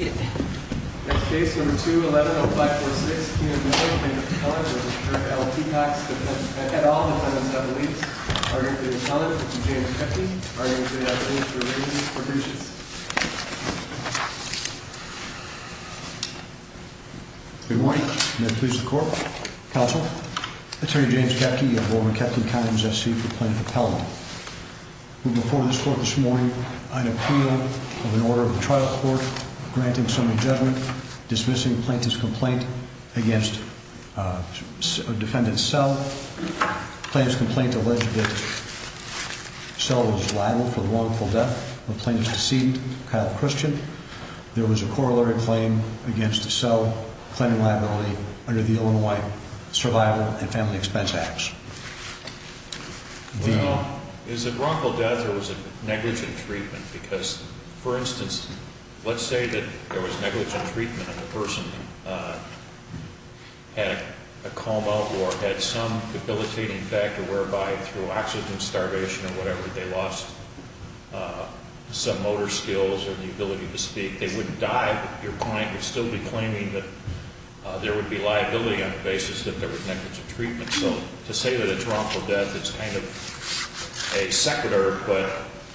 and all the females have t That's what James is old apology. Before this cour order of the trial, count judgment, dismissing pla uh, defendant's cell, cla deceived christian. There claim against the cell, c the Illinois survival and negligent treatment? Beca there was negligent treat uh, had a coma or had some or whatever. They lost, u or the ability to speak. your client would still b would be liability on the negligent treatment. So t death, it's kind of a sec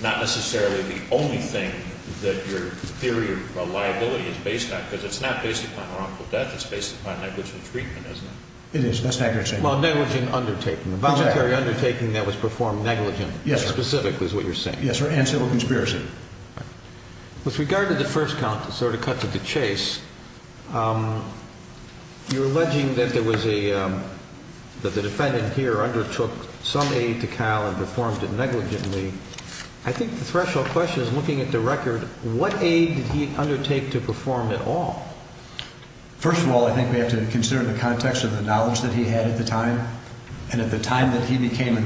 necessarily the only thin of liability is based on. upon wrongful death. It's treatment, isn't it? It i undertaking, voluntary un negligent. Yes. Specific Yes, sir. And civil consp the first count to sort o here undertook some aid t question is looking at th aid did he undertake to p all, I think we have to c of the knowledge that he at the time that he becam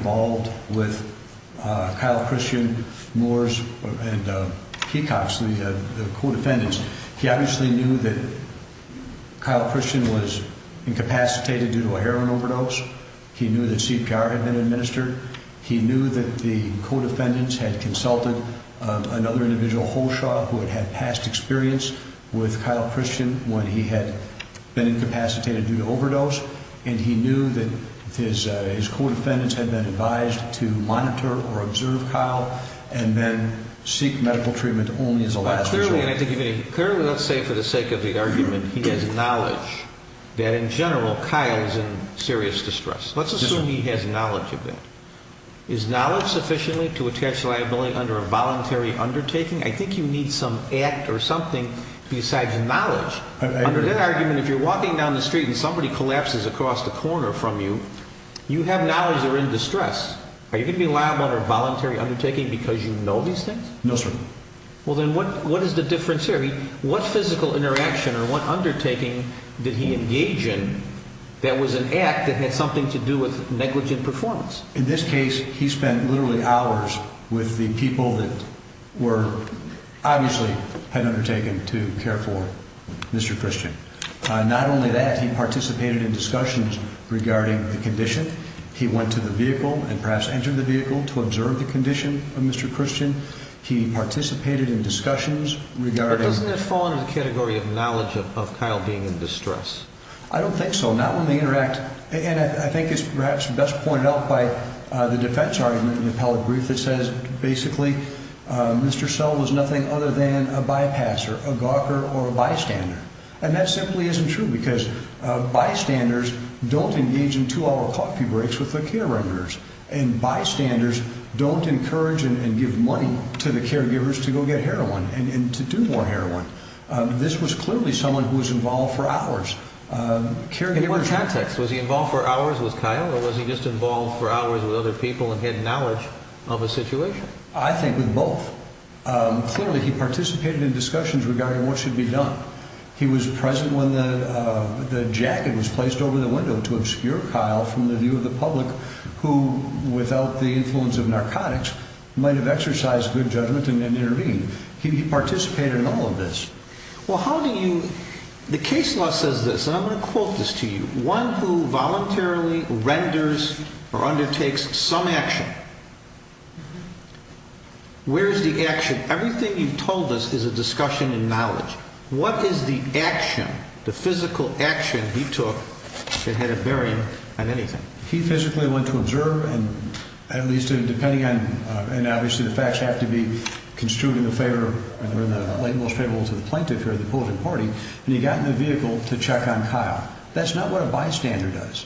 He obviously knew that Ch due to a heroin overdose. had been administered. He another individual wholes he had been incapacitated and he knew that his, uh, been advised to monitor o then seek medical treatme clearly. And I think if a for the sake of the argub that in general, Kyle is Let's assume he has knowl sufficiently to attach li voluntary undertaking? I act or something besides street and somebody colla corner from you, you have distress. Are you gonna b undertaking because you k sir. Well, then what, wha here? What physical inter did he engage in? That wa something to do with negl hours with the people tha to care for Mr christian. He went to the vehicle an vehicle to observe the co christian. He participated doesn't fall into the cat of Kyle being in distress not when they interact. A best pointed out by the d appellate brief that say And that simply isn't tru don't engage in two hour the care workers and byst and give money to the car heroin and to do more her someone who was involved he just involved for hour had knowledge of a situat regarding what should be when the jacket was place obscure Kyle from the vie without the influence of exercised good judgment a participated in all of th you? The case law says th to you one who voluntaril some action. Where's the is the action? The physica had a bearing on anything to observe and at least d obviously the facts have favor and we're in the la the plaintiff here, the p to check on Kyle. That's does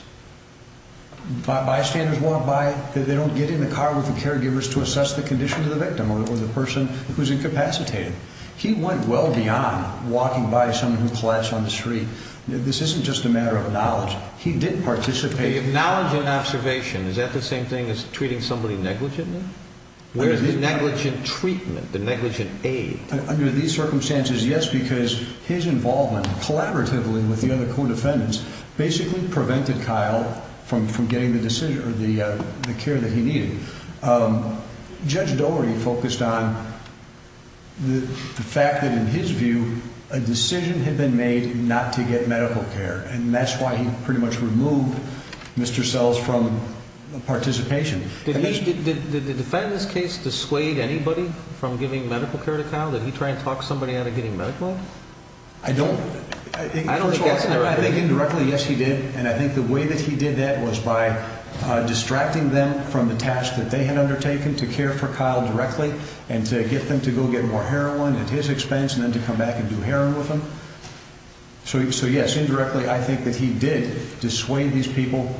bystanders walk by t the car with the caregive condition to the victim o incapacitated. He went we of knowledge. He didn't p an observation. Is that t treating somebody neglige treatment, the negligent with the other co defend Kyle from from getting th that he needed. Um, Judge on the fact that in his v been made not to get medi why he pretty much remove participation. Did the de anybody from giving medic he try and talk somebody I don't know. I think ind and I think the way that to care for Kyle directly go get more heroin at his come back and do heroin w indirectly, I think that people.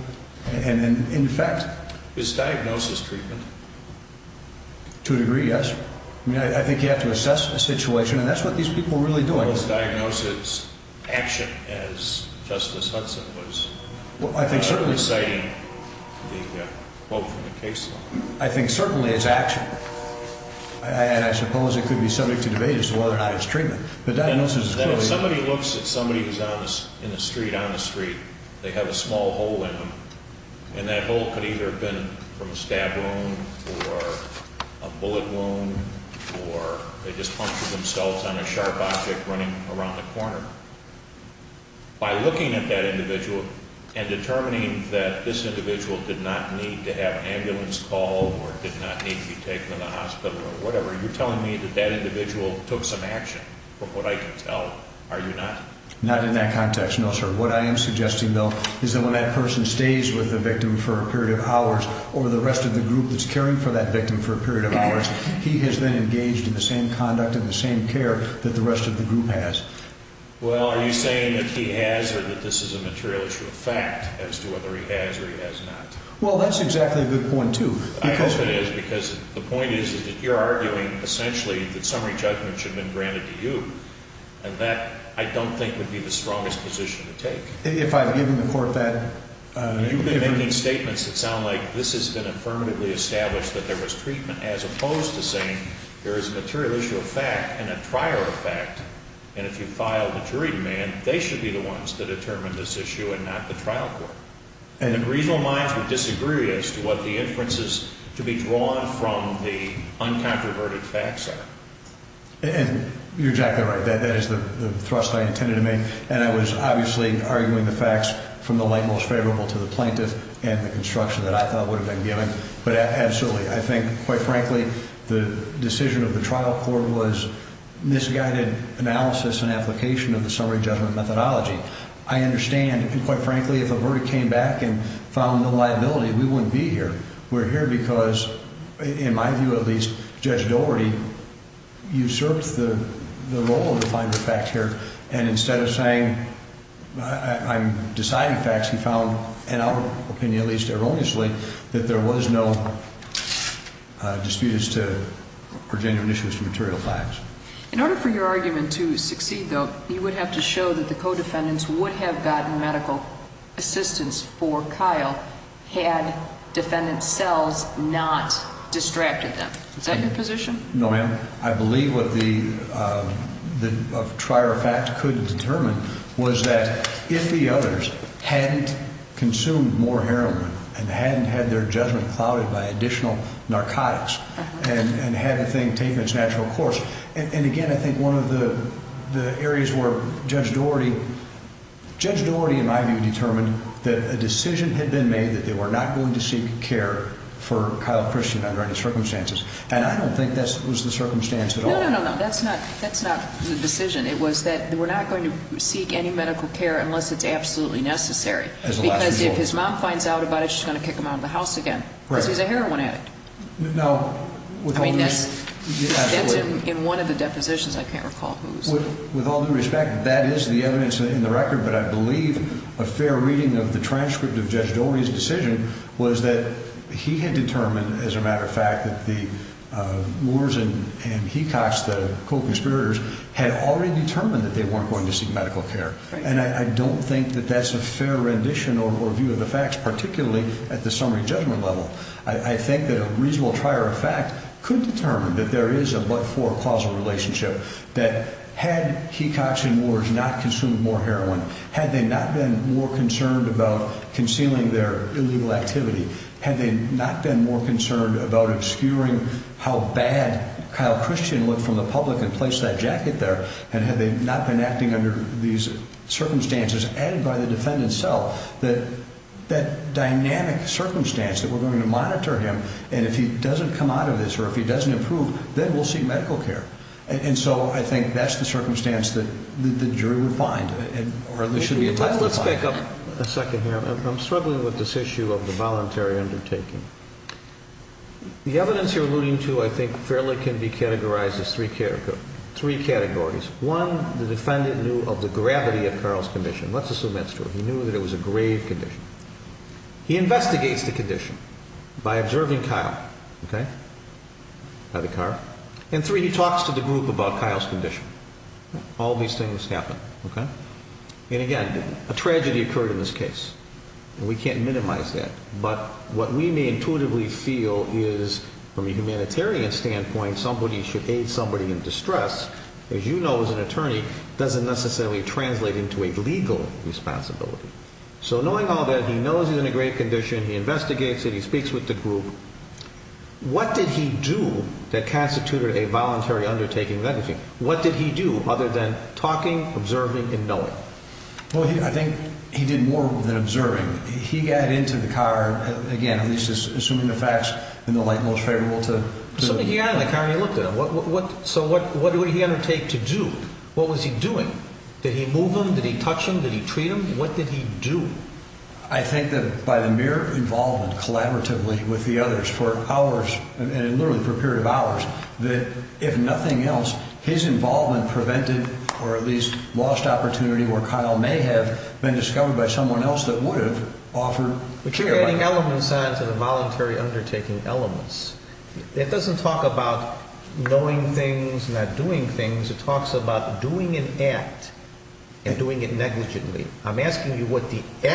And in fact, it's a situation and that's wh really doing this diagnosi Hudson was reciting the q it could be subject to de not his treatment. But di looks at somebody who's i the street, they have a s that bolt could either be or a bullet wound or they around the corner by look and determining that this have ambulance call or di in the hospital or whatev that that individual took I can tell. Are you not n No, sir. What I am suggest that person stays with th of hours or the rest of t for that victim for a per has been engaged in the s has. Well, are you saying that this is a material i he has or he has not? Wel a good point to because t is, is that you're arguin summary judgment should b that I don't think would to take. If I've given th making statements that so affirmatively established as opposed to saying the and a prior effect. And i man, they should be the o issue and not the trial c minds would disagree as t to be drawn from the unco are. And you're exactly r arguing the facts from th to the plaintiff and the thought would have been g I think quite frankly, th trial court was misguided of the summary judgment m And quite frankly, if a v found no liability, we wo here because in my view, And instead of saying, I found in our opinion, at that there was no dispute material facts. In order to succeed, though, you w that the co defendants wo assistance for Kyle had d distracted them. Is that I believe what the, uh, t determine was that if the more heroin and hadn't ha clouded by additional nar and had a thing taken its again, I think one of the that a decision had been going to seek care for Ky circumstances. And I don' the circumstance at all. the decision. It was that seek any medical care unl necessary because if his it, she's going to kick h because he's a heroin add I mean, that's in one of can't recall who's with a a fair reading of the tra Dori's decision was that as a matter of fact that the co conspirators had a that they weren't going t And I don't think that th or review of the facts, p summary judgment level. I determine that there is a relationship that had he about concealing their il they not been more concer how bad Kyle christian lo and place that jacket the not been acting under the added by the defendant se circumstance that we're g doesn't improve, then we And so I think that's the a second here. I'm strugg of the voluntary undertak three categories. One, th assume that's true. He kn condition. He investigati by the car and three, he about Kyle's condition. O Okay. And again, a traged feel is from a humanitari should aid somebody in di as an attorney doesn't ne into a legal responsibili it, he speaks with the gr that constituted a volunt and knowing? Well, I thin observing. He got into th is assuming the facts in to something. Yeah. Like he doing? Did he move him Did he treat him? What di by the mere involvement c for hours and literally f that if nothing else, his or at least lost opportun have been discovered by s would have offered, but y on to the voluntary undert doesn't talk about knowin things. It talks about do it negligently. I'm askin nothing. I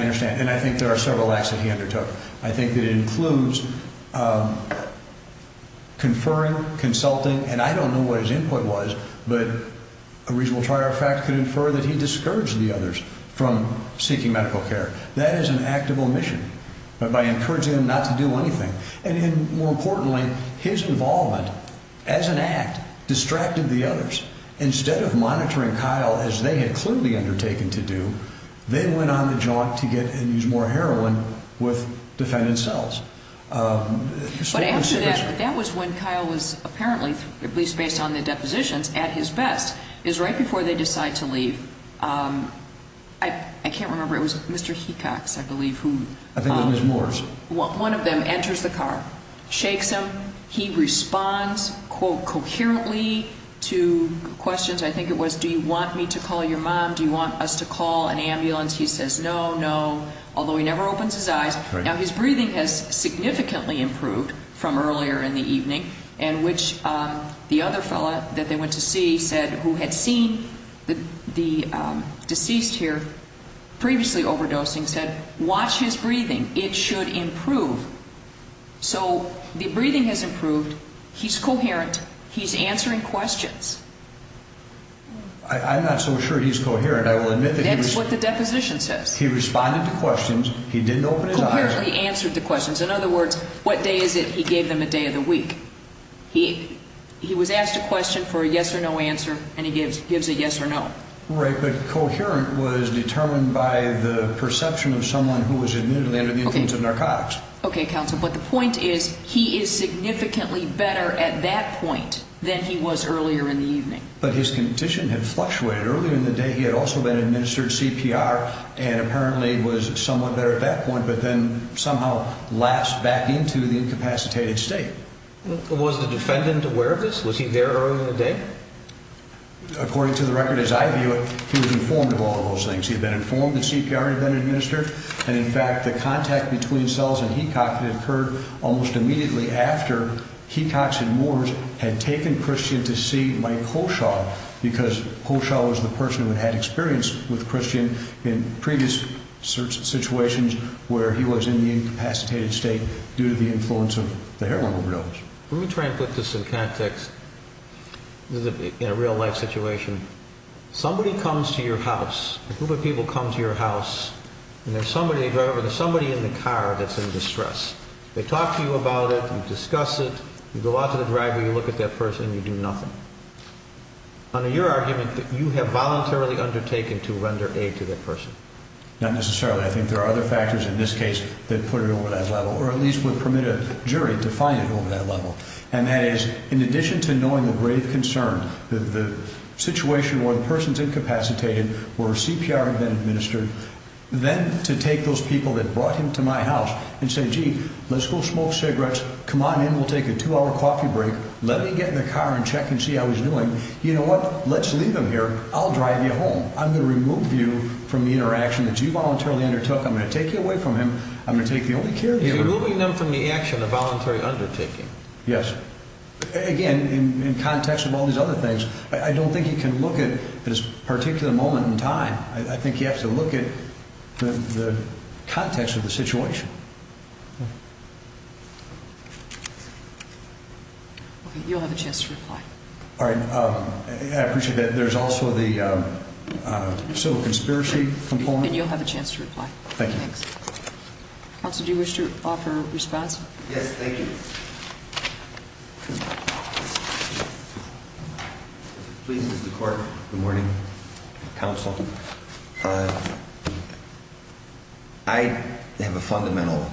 understand. An are several acts that he it includes, um, conferri fact could infer that he others from seeking medic an act of omission by enc do anything. And more imp of monitoring Kyle as the to do. They went on the j more heroin with defendan that that was when Kyle w based on the depositions before they decide to lea it was Mr Hecox, I believ one of them enters the ca responds coherently to qu it was. Do you want me to want us to call an ambula he never opens his eyes. has significantly improved evening and which the oth went to see said who had here previously overdosing It should improve. So the He's coherent. He's answe not so sure he's coherent the deposition says he re He didn't open his eyes. questions. In other words gave them a day of the we a question for a yes or n gives a yes or no. Right. by the perception of some under the influence of na But the point is he is si at that point than he was But his condition had flu the day. He had also been and apparently was somewh but then somehow last bac state. Was the defendant he there earlier in the d record as I view it, he w those things. He's been i been administered. And in cells and he cocked it oc after he talks and wars h to see my coach all becau person who had experience previous search situation incapacitated state due t the heroin overdose. We'l some context in a real li comes to your house, a gr comes to your house and t driver, there's somebody in distress. They talk to it. You go out to the dri that person, you do nothi that you have voluntarily aid to that person. Not n there are other factors i put it over that level or a jury to find it over th in addition to knowing th the situation where the p where CPR had been admini those people that brought say, gee, let's go smoke c we'll take a two hour coff get in the car and check You know what? Let's leav you home. I'm gonna remov that you voluntarily unde you away from him. I'm go care of you removing them voluntary undertaking. Ye all these other things. I look at this particular m I think you have to look the situation. Okay. You' reply. All right. I appre also the uh, so conspira have a chance to reply. T you wish to offer respons please. Is the court. Go Uh, I have a fundamental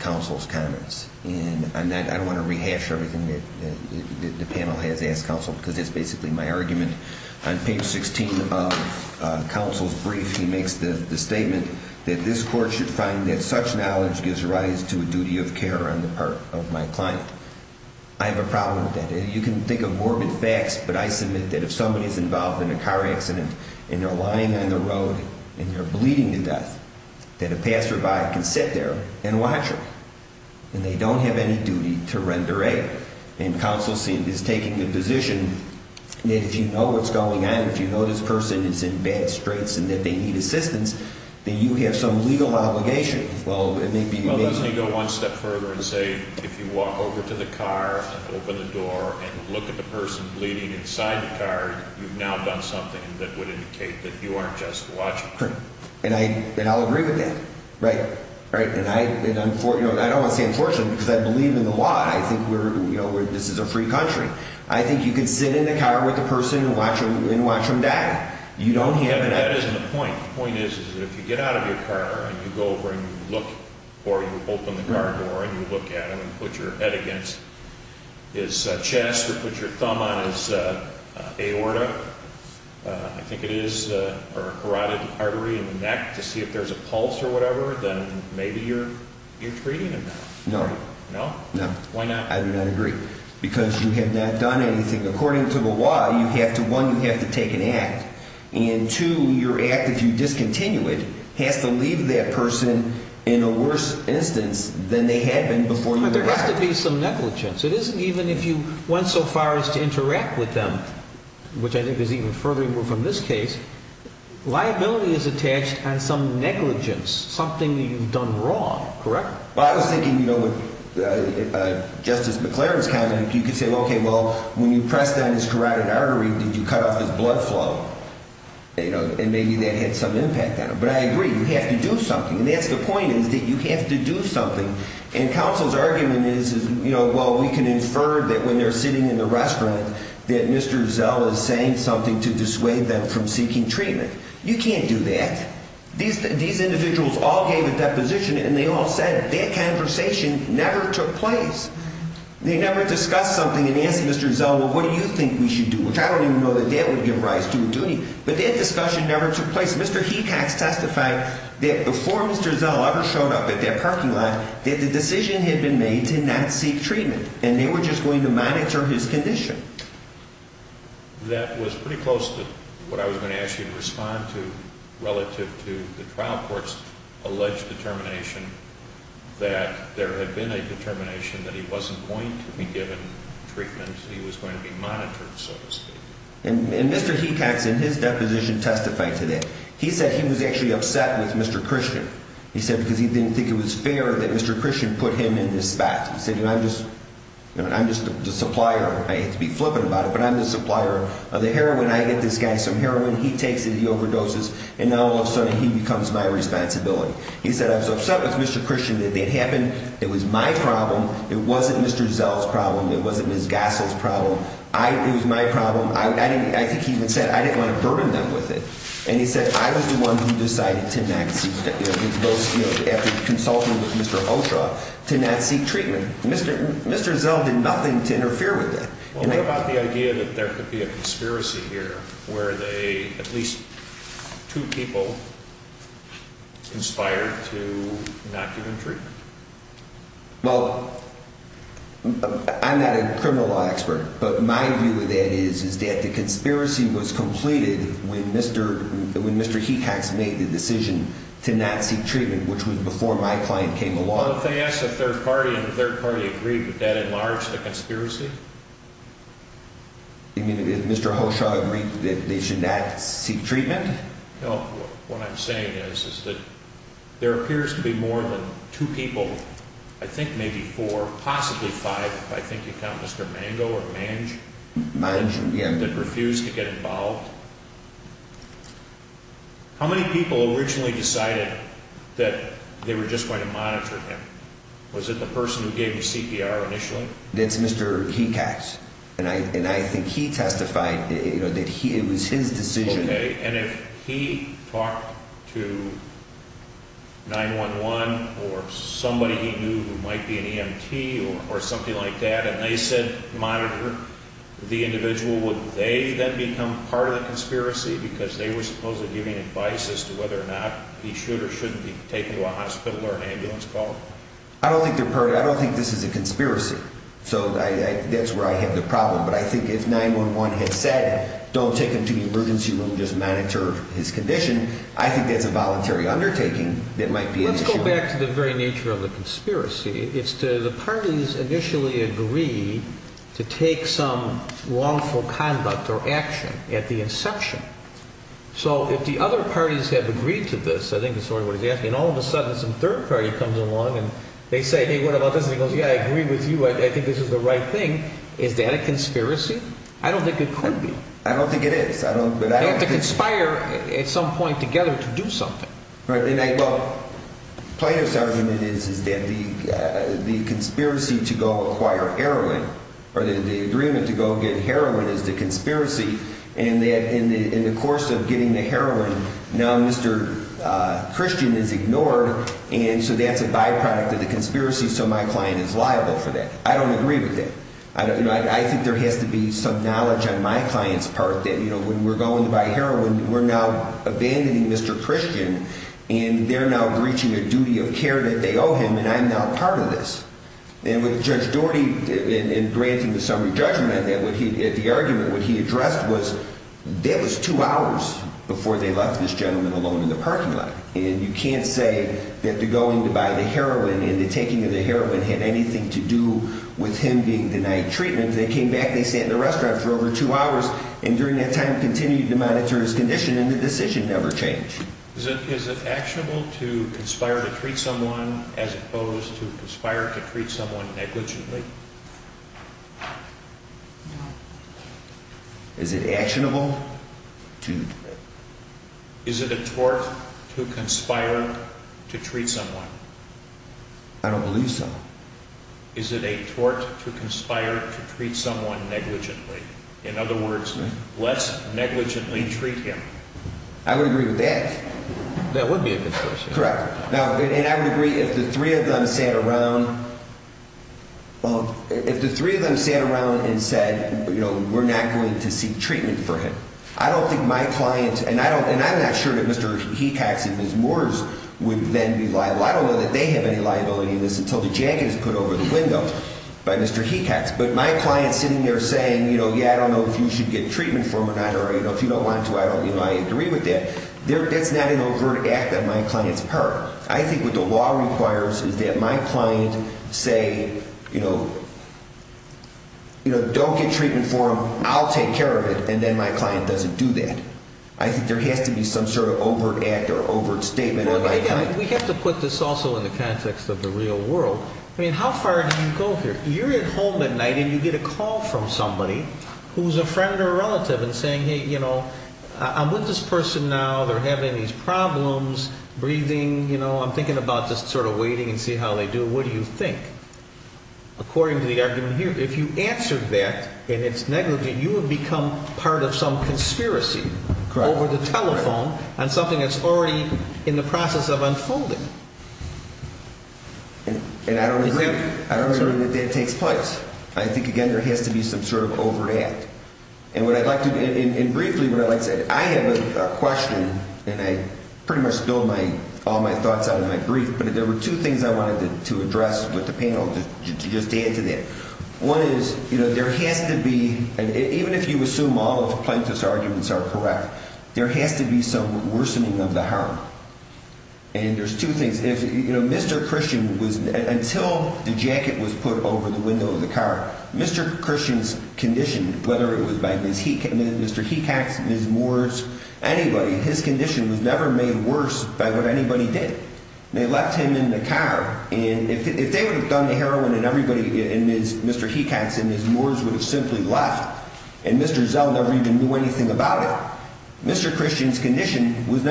counsel's comments and I everything that the panel because it's basically my of counsel's brief. He ma that this court should fi gives rise to a duty of c client. I have a problem of morbid facts, but I su is involved in a car acci on the road and you're bl a passerby can sit there they don't have any duty scene is taking the positi what's going on. If you k is in bad straights and t that you have some legal be able to go one step fu walk over to the car, ope at the person bleeding in now done something that w you aren't just watching with that. Right. Right. I don't want to say unfor in the law. I think we're a free country. I think y car with the person and w die. You don't have that is, is if you get out of over and look or you ope you look at him and put y chest or put your thumb o it is or carotid artery i if there's a pulse or wha you're you're treating hi I do not agree because yo according to the law, you have to take an act and t discontinue it has to lea instance than they had be to be some negligence. It so far as to interact wit is even further removed f is attached on some negli you've done wrong. Correct you know, with uh, justic you could say, okay, well his carotid artery, did y flow? You know, and maybe on him. But I agree you h And that's the point is t something. And counsel's know, well, we can inferr sitting in the restaurant something to dissuade the You can't do that. These all gave a deposition and conversation never took p something and answer Mr. we should do, which I don would give rise to a duty never took place. Mr. Hee before Mr. Zell ever show lot that the decision had treatment and they were j his condition. That was p I was gonna ask you to re to the trial court's alle there had been a determina going to be given treatme to be monitored, so to sp in his deposition testifi he was actually upset wit said because he didn't th Mr Christian put him in t I'm just, I'm just a supp flippant about it, but I' heroin. I get this guy so he overdoses and now all my responsibility. He say Mr Christian that they ha It wasn't Mr Zell's probl Gasol's problem. I, it wa I think he even said I di them with it. And he said decided to not see both a Mr Ultra to not seek trea did nothing to interfere the idea that there could where they at least two p not given treatment. Well law expert. But my view o the conspiracy was comple Mr. He tax made the decis which was before my clien ask the third party and t that enlarge the conspira agree that they should no No. What I'm saying is, i to be more than two peopl four, possibly five. I th or manage, manage. Yeah. involved. How many peopl that they were just going Was it the person who gav That's Mr. He tax. And I, you know, that he, it was if he talked to 911 or so might be an E. M. T. Or s they said monitor the ind then become part of the c they were supposedly givi or not he should or shoul ambulance call. I don't t don't think this is a cons where I have the problem. one has said don't take h room, just monitor his co a voluntary undertaking t back to the very nature o to the parties initially conduct or action at the the other parties have ag what he's asking. All of party comes along and the this? He goes, yeah, I agr think this is the right t I don't think it could be I don't, but I have to co together to do something. sergeant is, is that the go acquire heroin or the get heroin is the conspi and that in the course of Now, Mr Christian is igno a byproduct of the conspi is liable for that. I don I think there has to be s part that, you know, when heroin, we're now abandon they're now reaching a do owe him and I'm now part Doherty and granting the at the argument, what he was two hours before they alone in the parking lot. that they're going to buy taking of the heroin had with him being denied tre back. They sat in the res hours and during that tim his condition and the dec Is it actionable to consp as opposed to conspire to No. Is it actionable to i to conspire to treat some so. Is it a tort to consp negligently? In other wor treat him. I would agree be a good question. Corre agree. If the three of th around and said, you know seek treatment for him. I and I don't and I'm not su moore's would then be liab have any liability in this put over the window by Mr sitting there saying, you know, if you should get t or if you don't want to, that. That's not an overt part. I think what the la my client say, you know, treatment for him, I'll t then my client doesn't do has to be some sort of ov statement. We have to put of the real world. I mean here? You're at home at n a call from somebody who' and saying, hey, you know now they're having these you know, I'm thinking ab of waiting and see how th think? According to the a answered that and it's ne become part of some consp the telephone and somethi the process of unfolding. I don't know that that ta again, there has to be so And what I'd like to do i like to say, I have a que and I pretty much build m out of my grief. But the I wanted to address with add to that. One is, you be, even if you assume al are correct, there has to of the harm. And there's know, Mr Christian was un put over the window of th conditioned, whether it w Mr. He cats, Ms. Moors, a was never made worse by w left him in the car and i the heroin and everybody and his moors would have zone never even knew anyt christian's condition was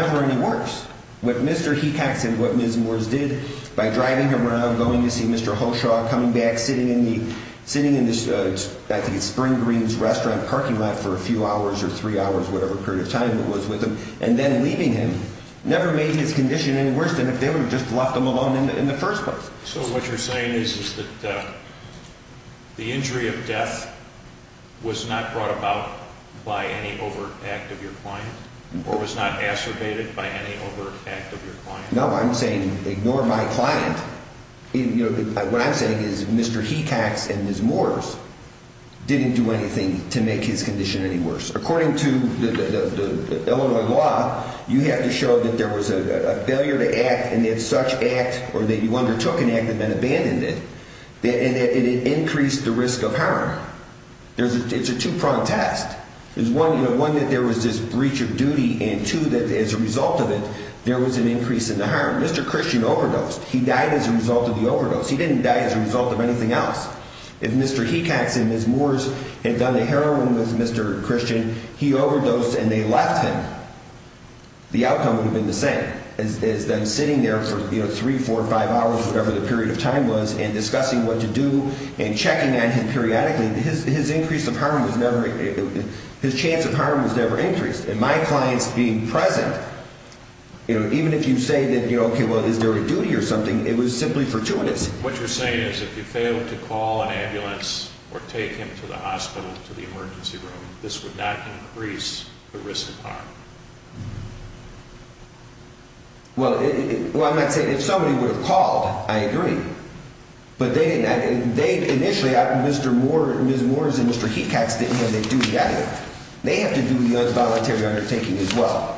Mr. He cats and what Ms. him around going to see M back sitting in the sitti greens restaurant parkin or three hours, whatever was with him and then lea his condition any worse t left him alone in the fir saying is, is that the in not brought about by any or was not exacerbated by your client. No, I'm sayi you know, what I'm saying and his moors didn't do a condition any worse. Acco law, you have to show that to act and it's such act an act and then abandoned the risk of harm. There's is one, you know, one tha of duty and two that as a an increase in the harm. He died as a result of th He didn't die as a result Mr. He cats and his moors with Mr christian, he ove him. The outcome would ha them sitting there for 3 the period of time was an to do and checking on him increase of harm was neve of harm was never increas being present. You know, that, you know, okay, wel or something. It was simpl you're saying is if you f or take him to the hospit room, this would not incr Well, well, I'm not saying called, I agree, but they out. Mr. Moore, Mr. Moore didn't have a duty. They voluntary undertaking as what?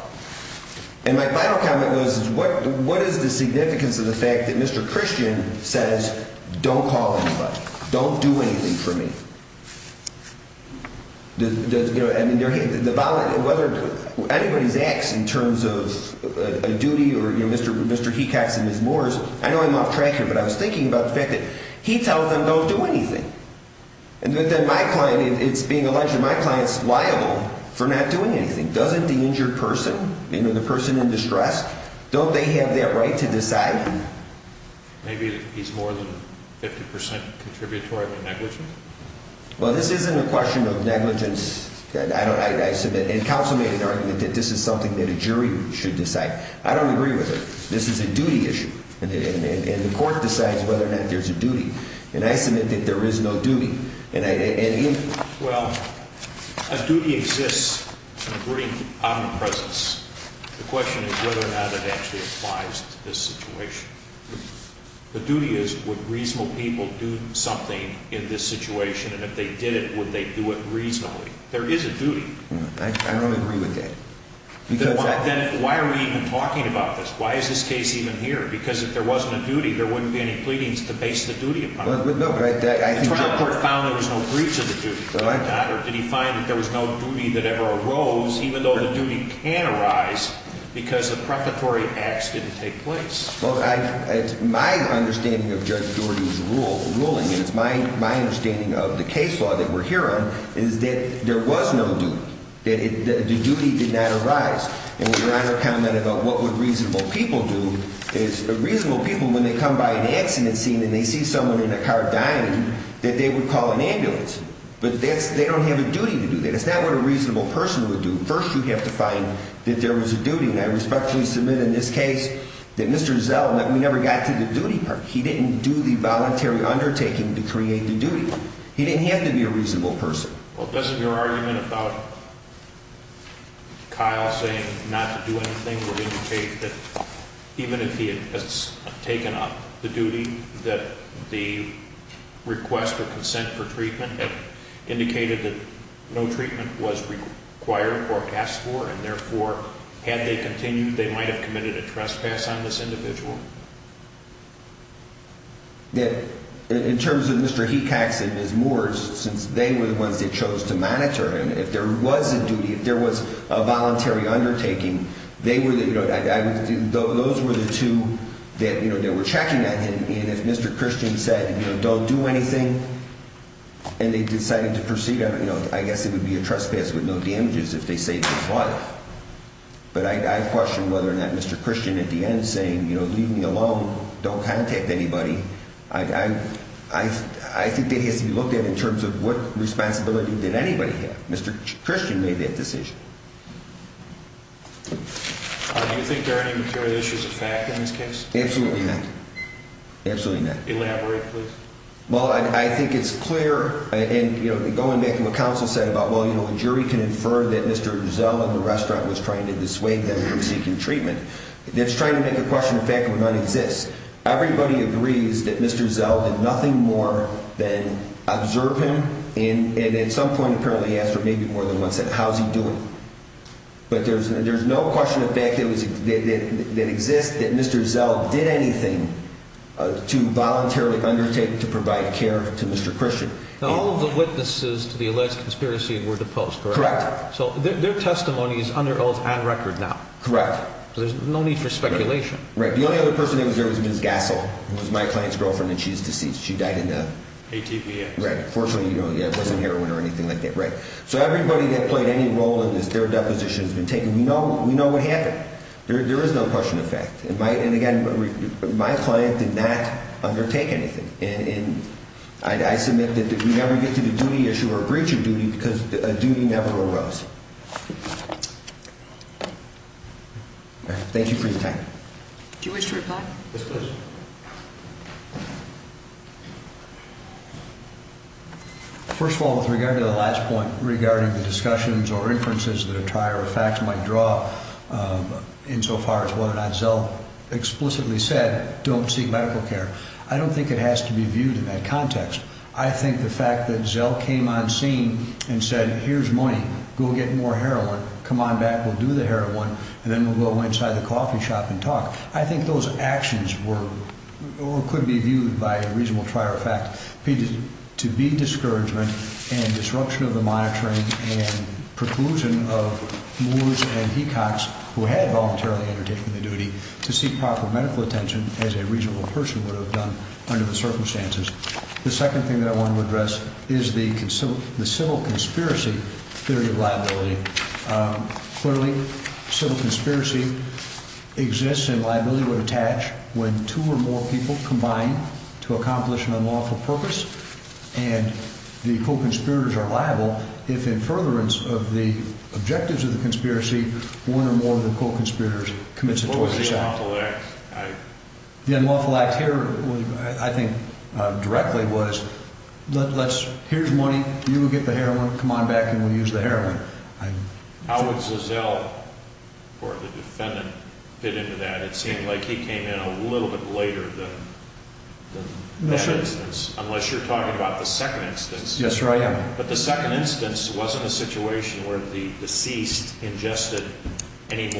What is the signifi Mr christian says? Don't do anything for me. The v acts in terms of duty or and his moors. I know I'm I was thinking about the them don't do anything. A it's being alleged my cli doing anything. Doesn't t the person in distress, d right to decide? Maybe he contributory negligence. question of negligence. I counsel made an argument that a jury should decide it. This is a duty issue whether or not there's a that there is no duty. An a duty exists in a brief question is whether or no to this situation. The do people do something in th they did it, would they d is a duty. I don't agree why are we even talking a case even here? Because i there wouldn't be any ple duty upon. No, but I think breach of the duty. Did h was no duty that ever aro the duty can arise becaus acts didn't take place. M of Judge Doherty's rule, of the case law that we'r there was no duty, the du and we were on her comment reasonable people do is r they come by an accident and they see someone in a they would call an ambulan don't have a duty to do t a reasonable person would to find that there was a submit in this case that never got to the duty par voluntary undertaking to He didn't have to be a re this is your argument abo not to do anything for in if he had taken up the du or consent for treatment was required or asked for continued, they might hav on this individual. Yeah. he taxed it is more since they chose to monitor. An duty, if there was a volu they were, you know, thos you know, they were check christian said, don't do decided to proceed. I gue a trespass with no damages life. But I question wheth at the end saying, you kn don't contact anybody. I to be looked at in terms what responsibility did a made that decision. Do yo material issues of fact i not. Absolutely not. Elab I think it's clear and go said about, well, you kno that Mr Giselle in the re to dissuade them from see trying to make a question exist. Everybody agrees t more than observe him. An apparently after maybe mo he doing? But there's, th of fact that was that exi did anything to volunteari care to Mr Christian. All to the alleged conspiracy correct? So their testimon on record now. Correct. T speculation. Right. The o there was Ms Gasol, who w deceased. She died in the you know, it wasn't heroi that. Right. So everybody role in this, their depos You know, we know what ha no question of fact. And did not undertake anythin that we never get to the First of all, with regard regarding the discussions that attire of facts might whether or not zeal explic medical care. I don't thin viewed in that context. I that zeal came on scene an go get more heroin, come heroin and then we'll go shop and talk. I think th were or could be viewed by fact to be discouragement of the monitoring and pro and he cocks who had volu the duty to seek proper m as a reasonable person wo circumstances. The second to address is the consul theory of liability. Um c exists and liability woul or more people combined t unlawful purpose and the are liable. If in further of the conspiracy, one or committed. What was the u act here? I think directl money, you will get the h back and we'll use the he or the defendant fit int he came in a little bit l unless you're talking abo Yes, sir. I am. But the s a situation where the dec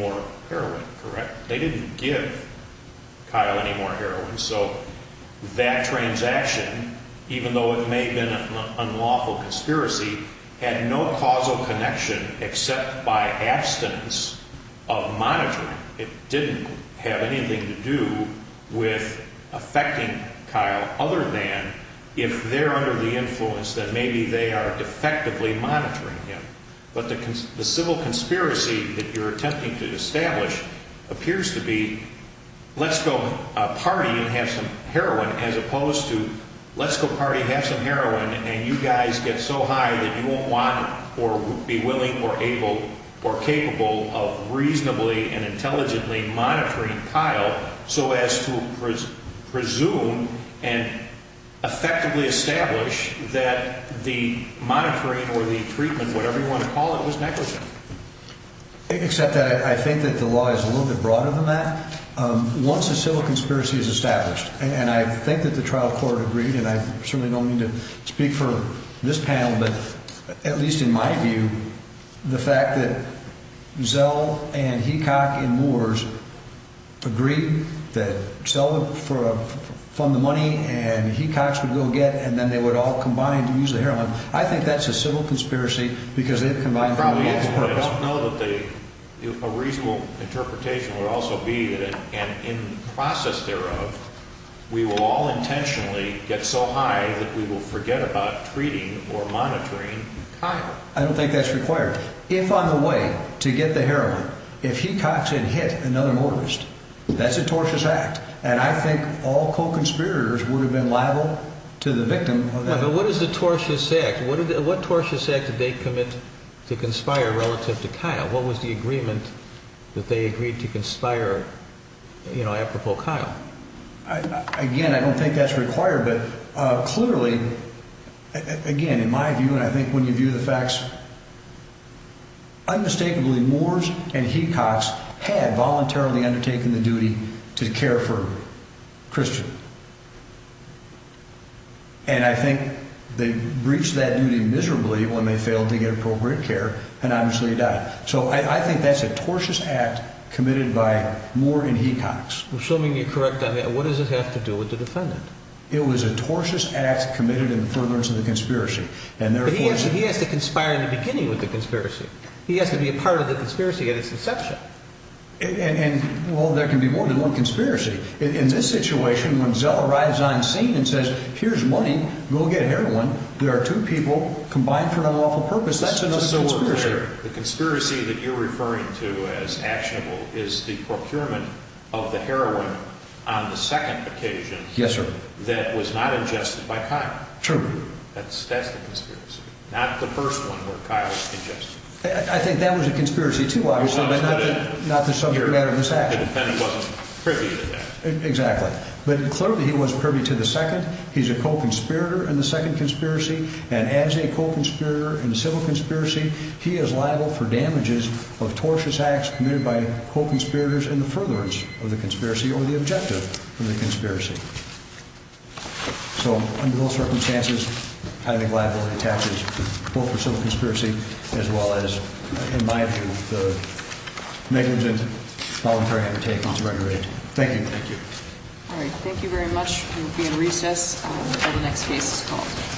heroin, correct? They did more heroin. So that tran even though it may have b had no causal connection of monitoring. It didn't with affecting Kyle other the influence that maybe monitoring him. But the c that you're attempting to to be, let's go party and as opposed to let's go pa and you guys get so high or be willing or able or and intelligently monitor presume and effectively e monitoring or the treatme to call it was negligent. I think that the law is a that once a civil conspir and I think that the tria I certainly don't mean to but at least in my view, and he cock and moors agr for fund the money and he get and then they would a heroin. I think that's a because they've combined I don't know that they, would also be that and i will all intentionally g will forget about treatin I don't think that's requ to get the heroin, if he mortgaged, that's a tortu all co conspirators would to the victim. But what i what torches said that th relative to Kyle? What wa they agreed to conspire? Kyle? Again, I don't thin but clearly again in my v you view the facts, unmist and he cocks had voluntar the duty to care for Chri they breached that duty m failed to get appropriate died. So I think that's a by more than he cocks. I' on that. What does it hav defendant? It was a tortu furtherance of the conspi has to conspire in the be He has to be a part of th inception. And well, the one conspiracy in this si on scene and says, here's heroin. There are two peo awful purpose. That's an that you're referring to procurement of the heroin Yes, sir. That was not in That's that's the conspir one where Kyle's congesti a conspiracy to obviously matter of this act. The d Exactly. But clearly he w second. He's a co conspir and as a co conspirator i He is liable for damages by co conspirators in the the conspiracy or the obje So under those circumstanc attaches both for civil c as in my view, the neglig thank you. Thank you. Alri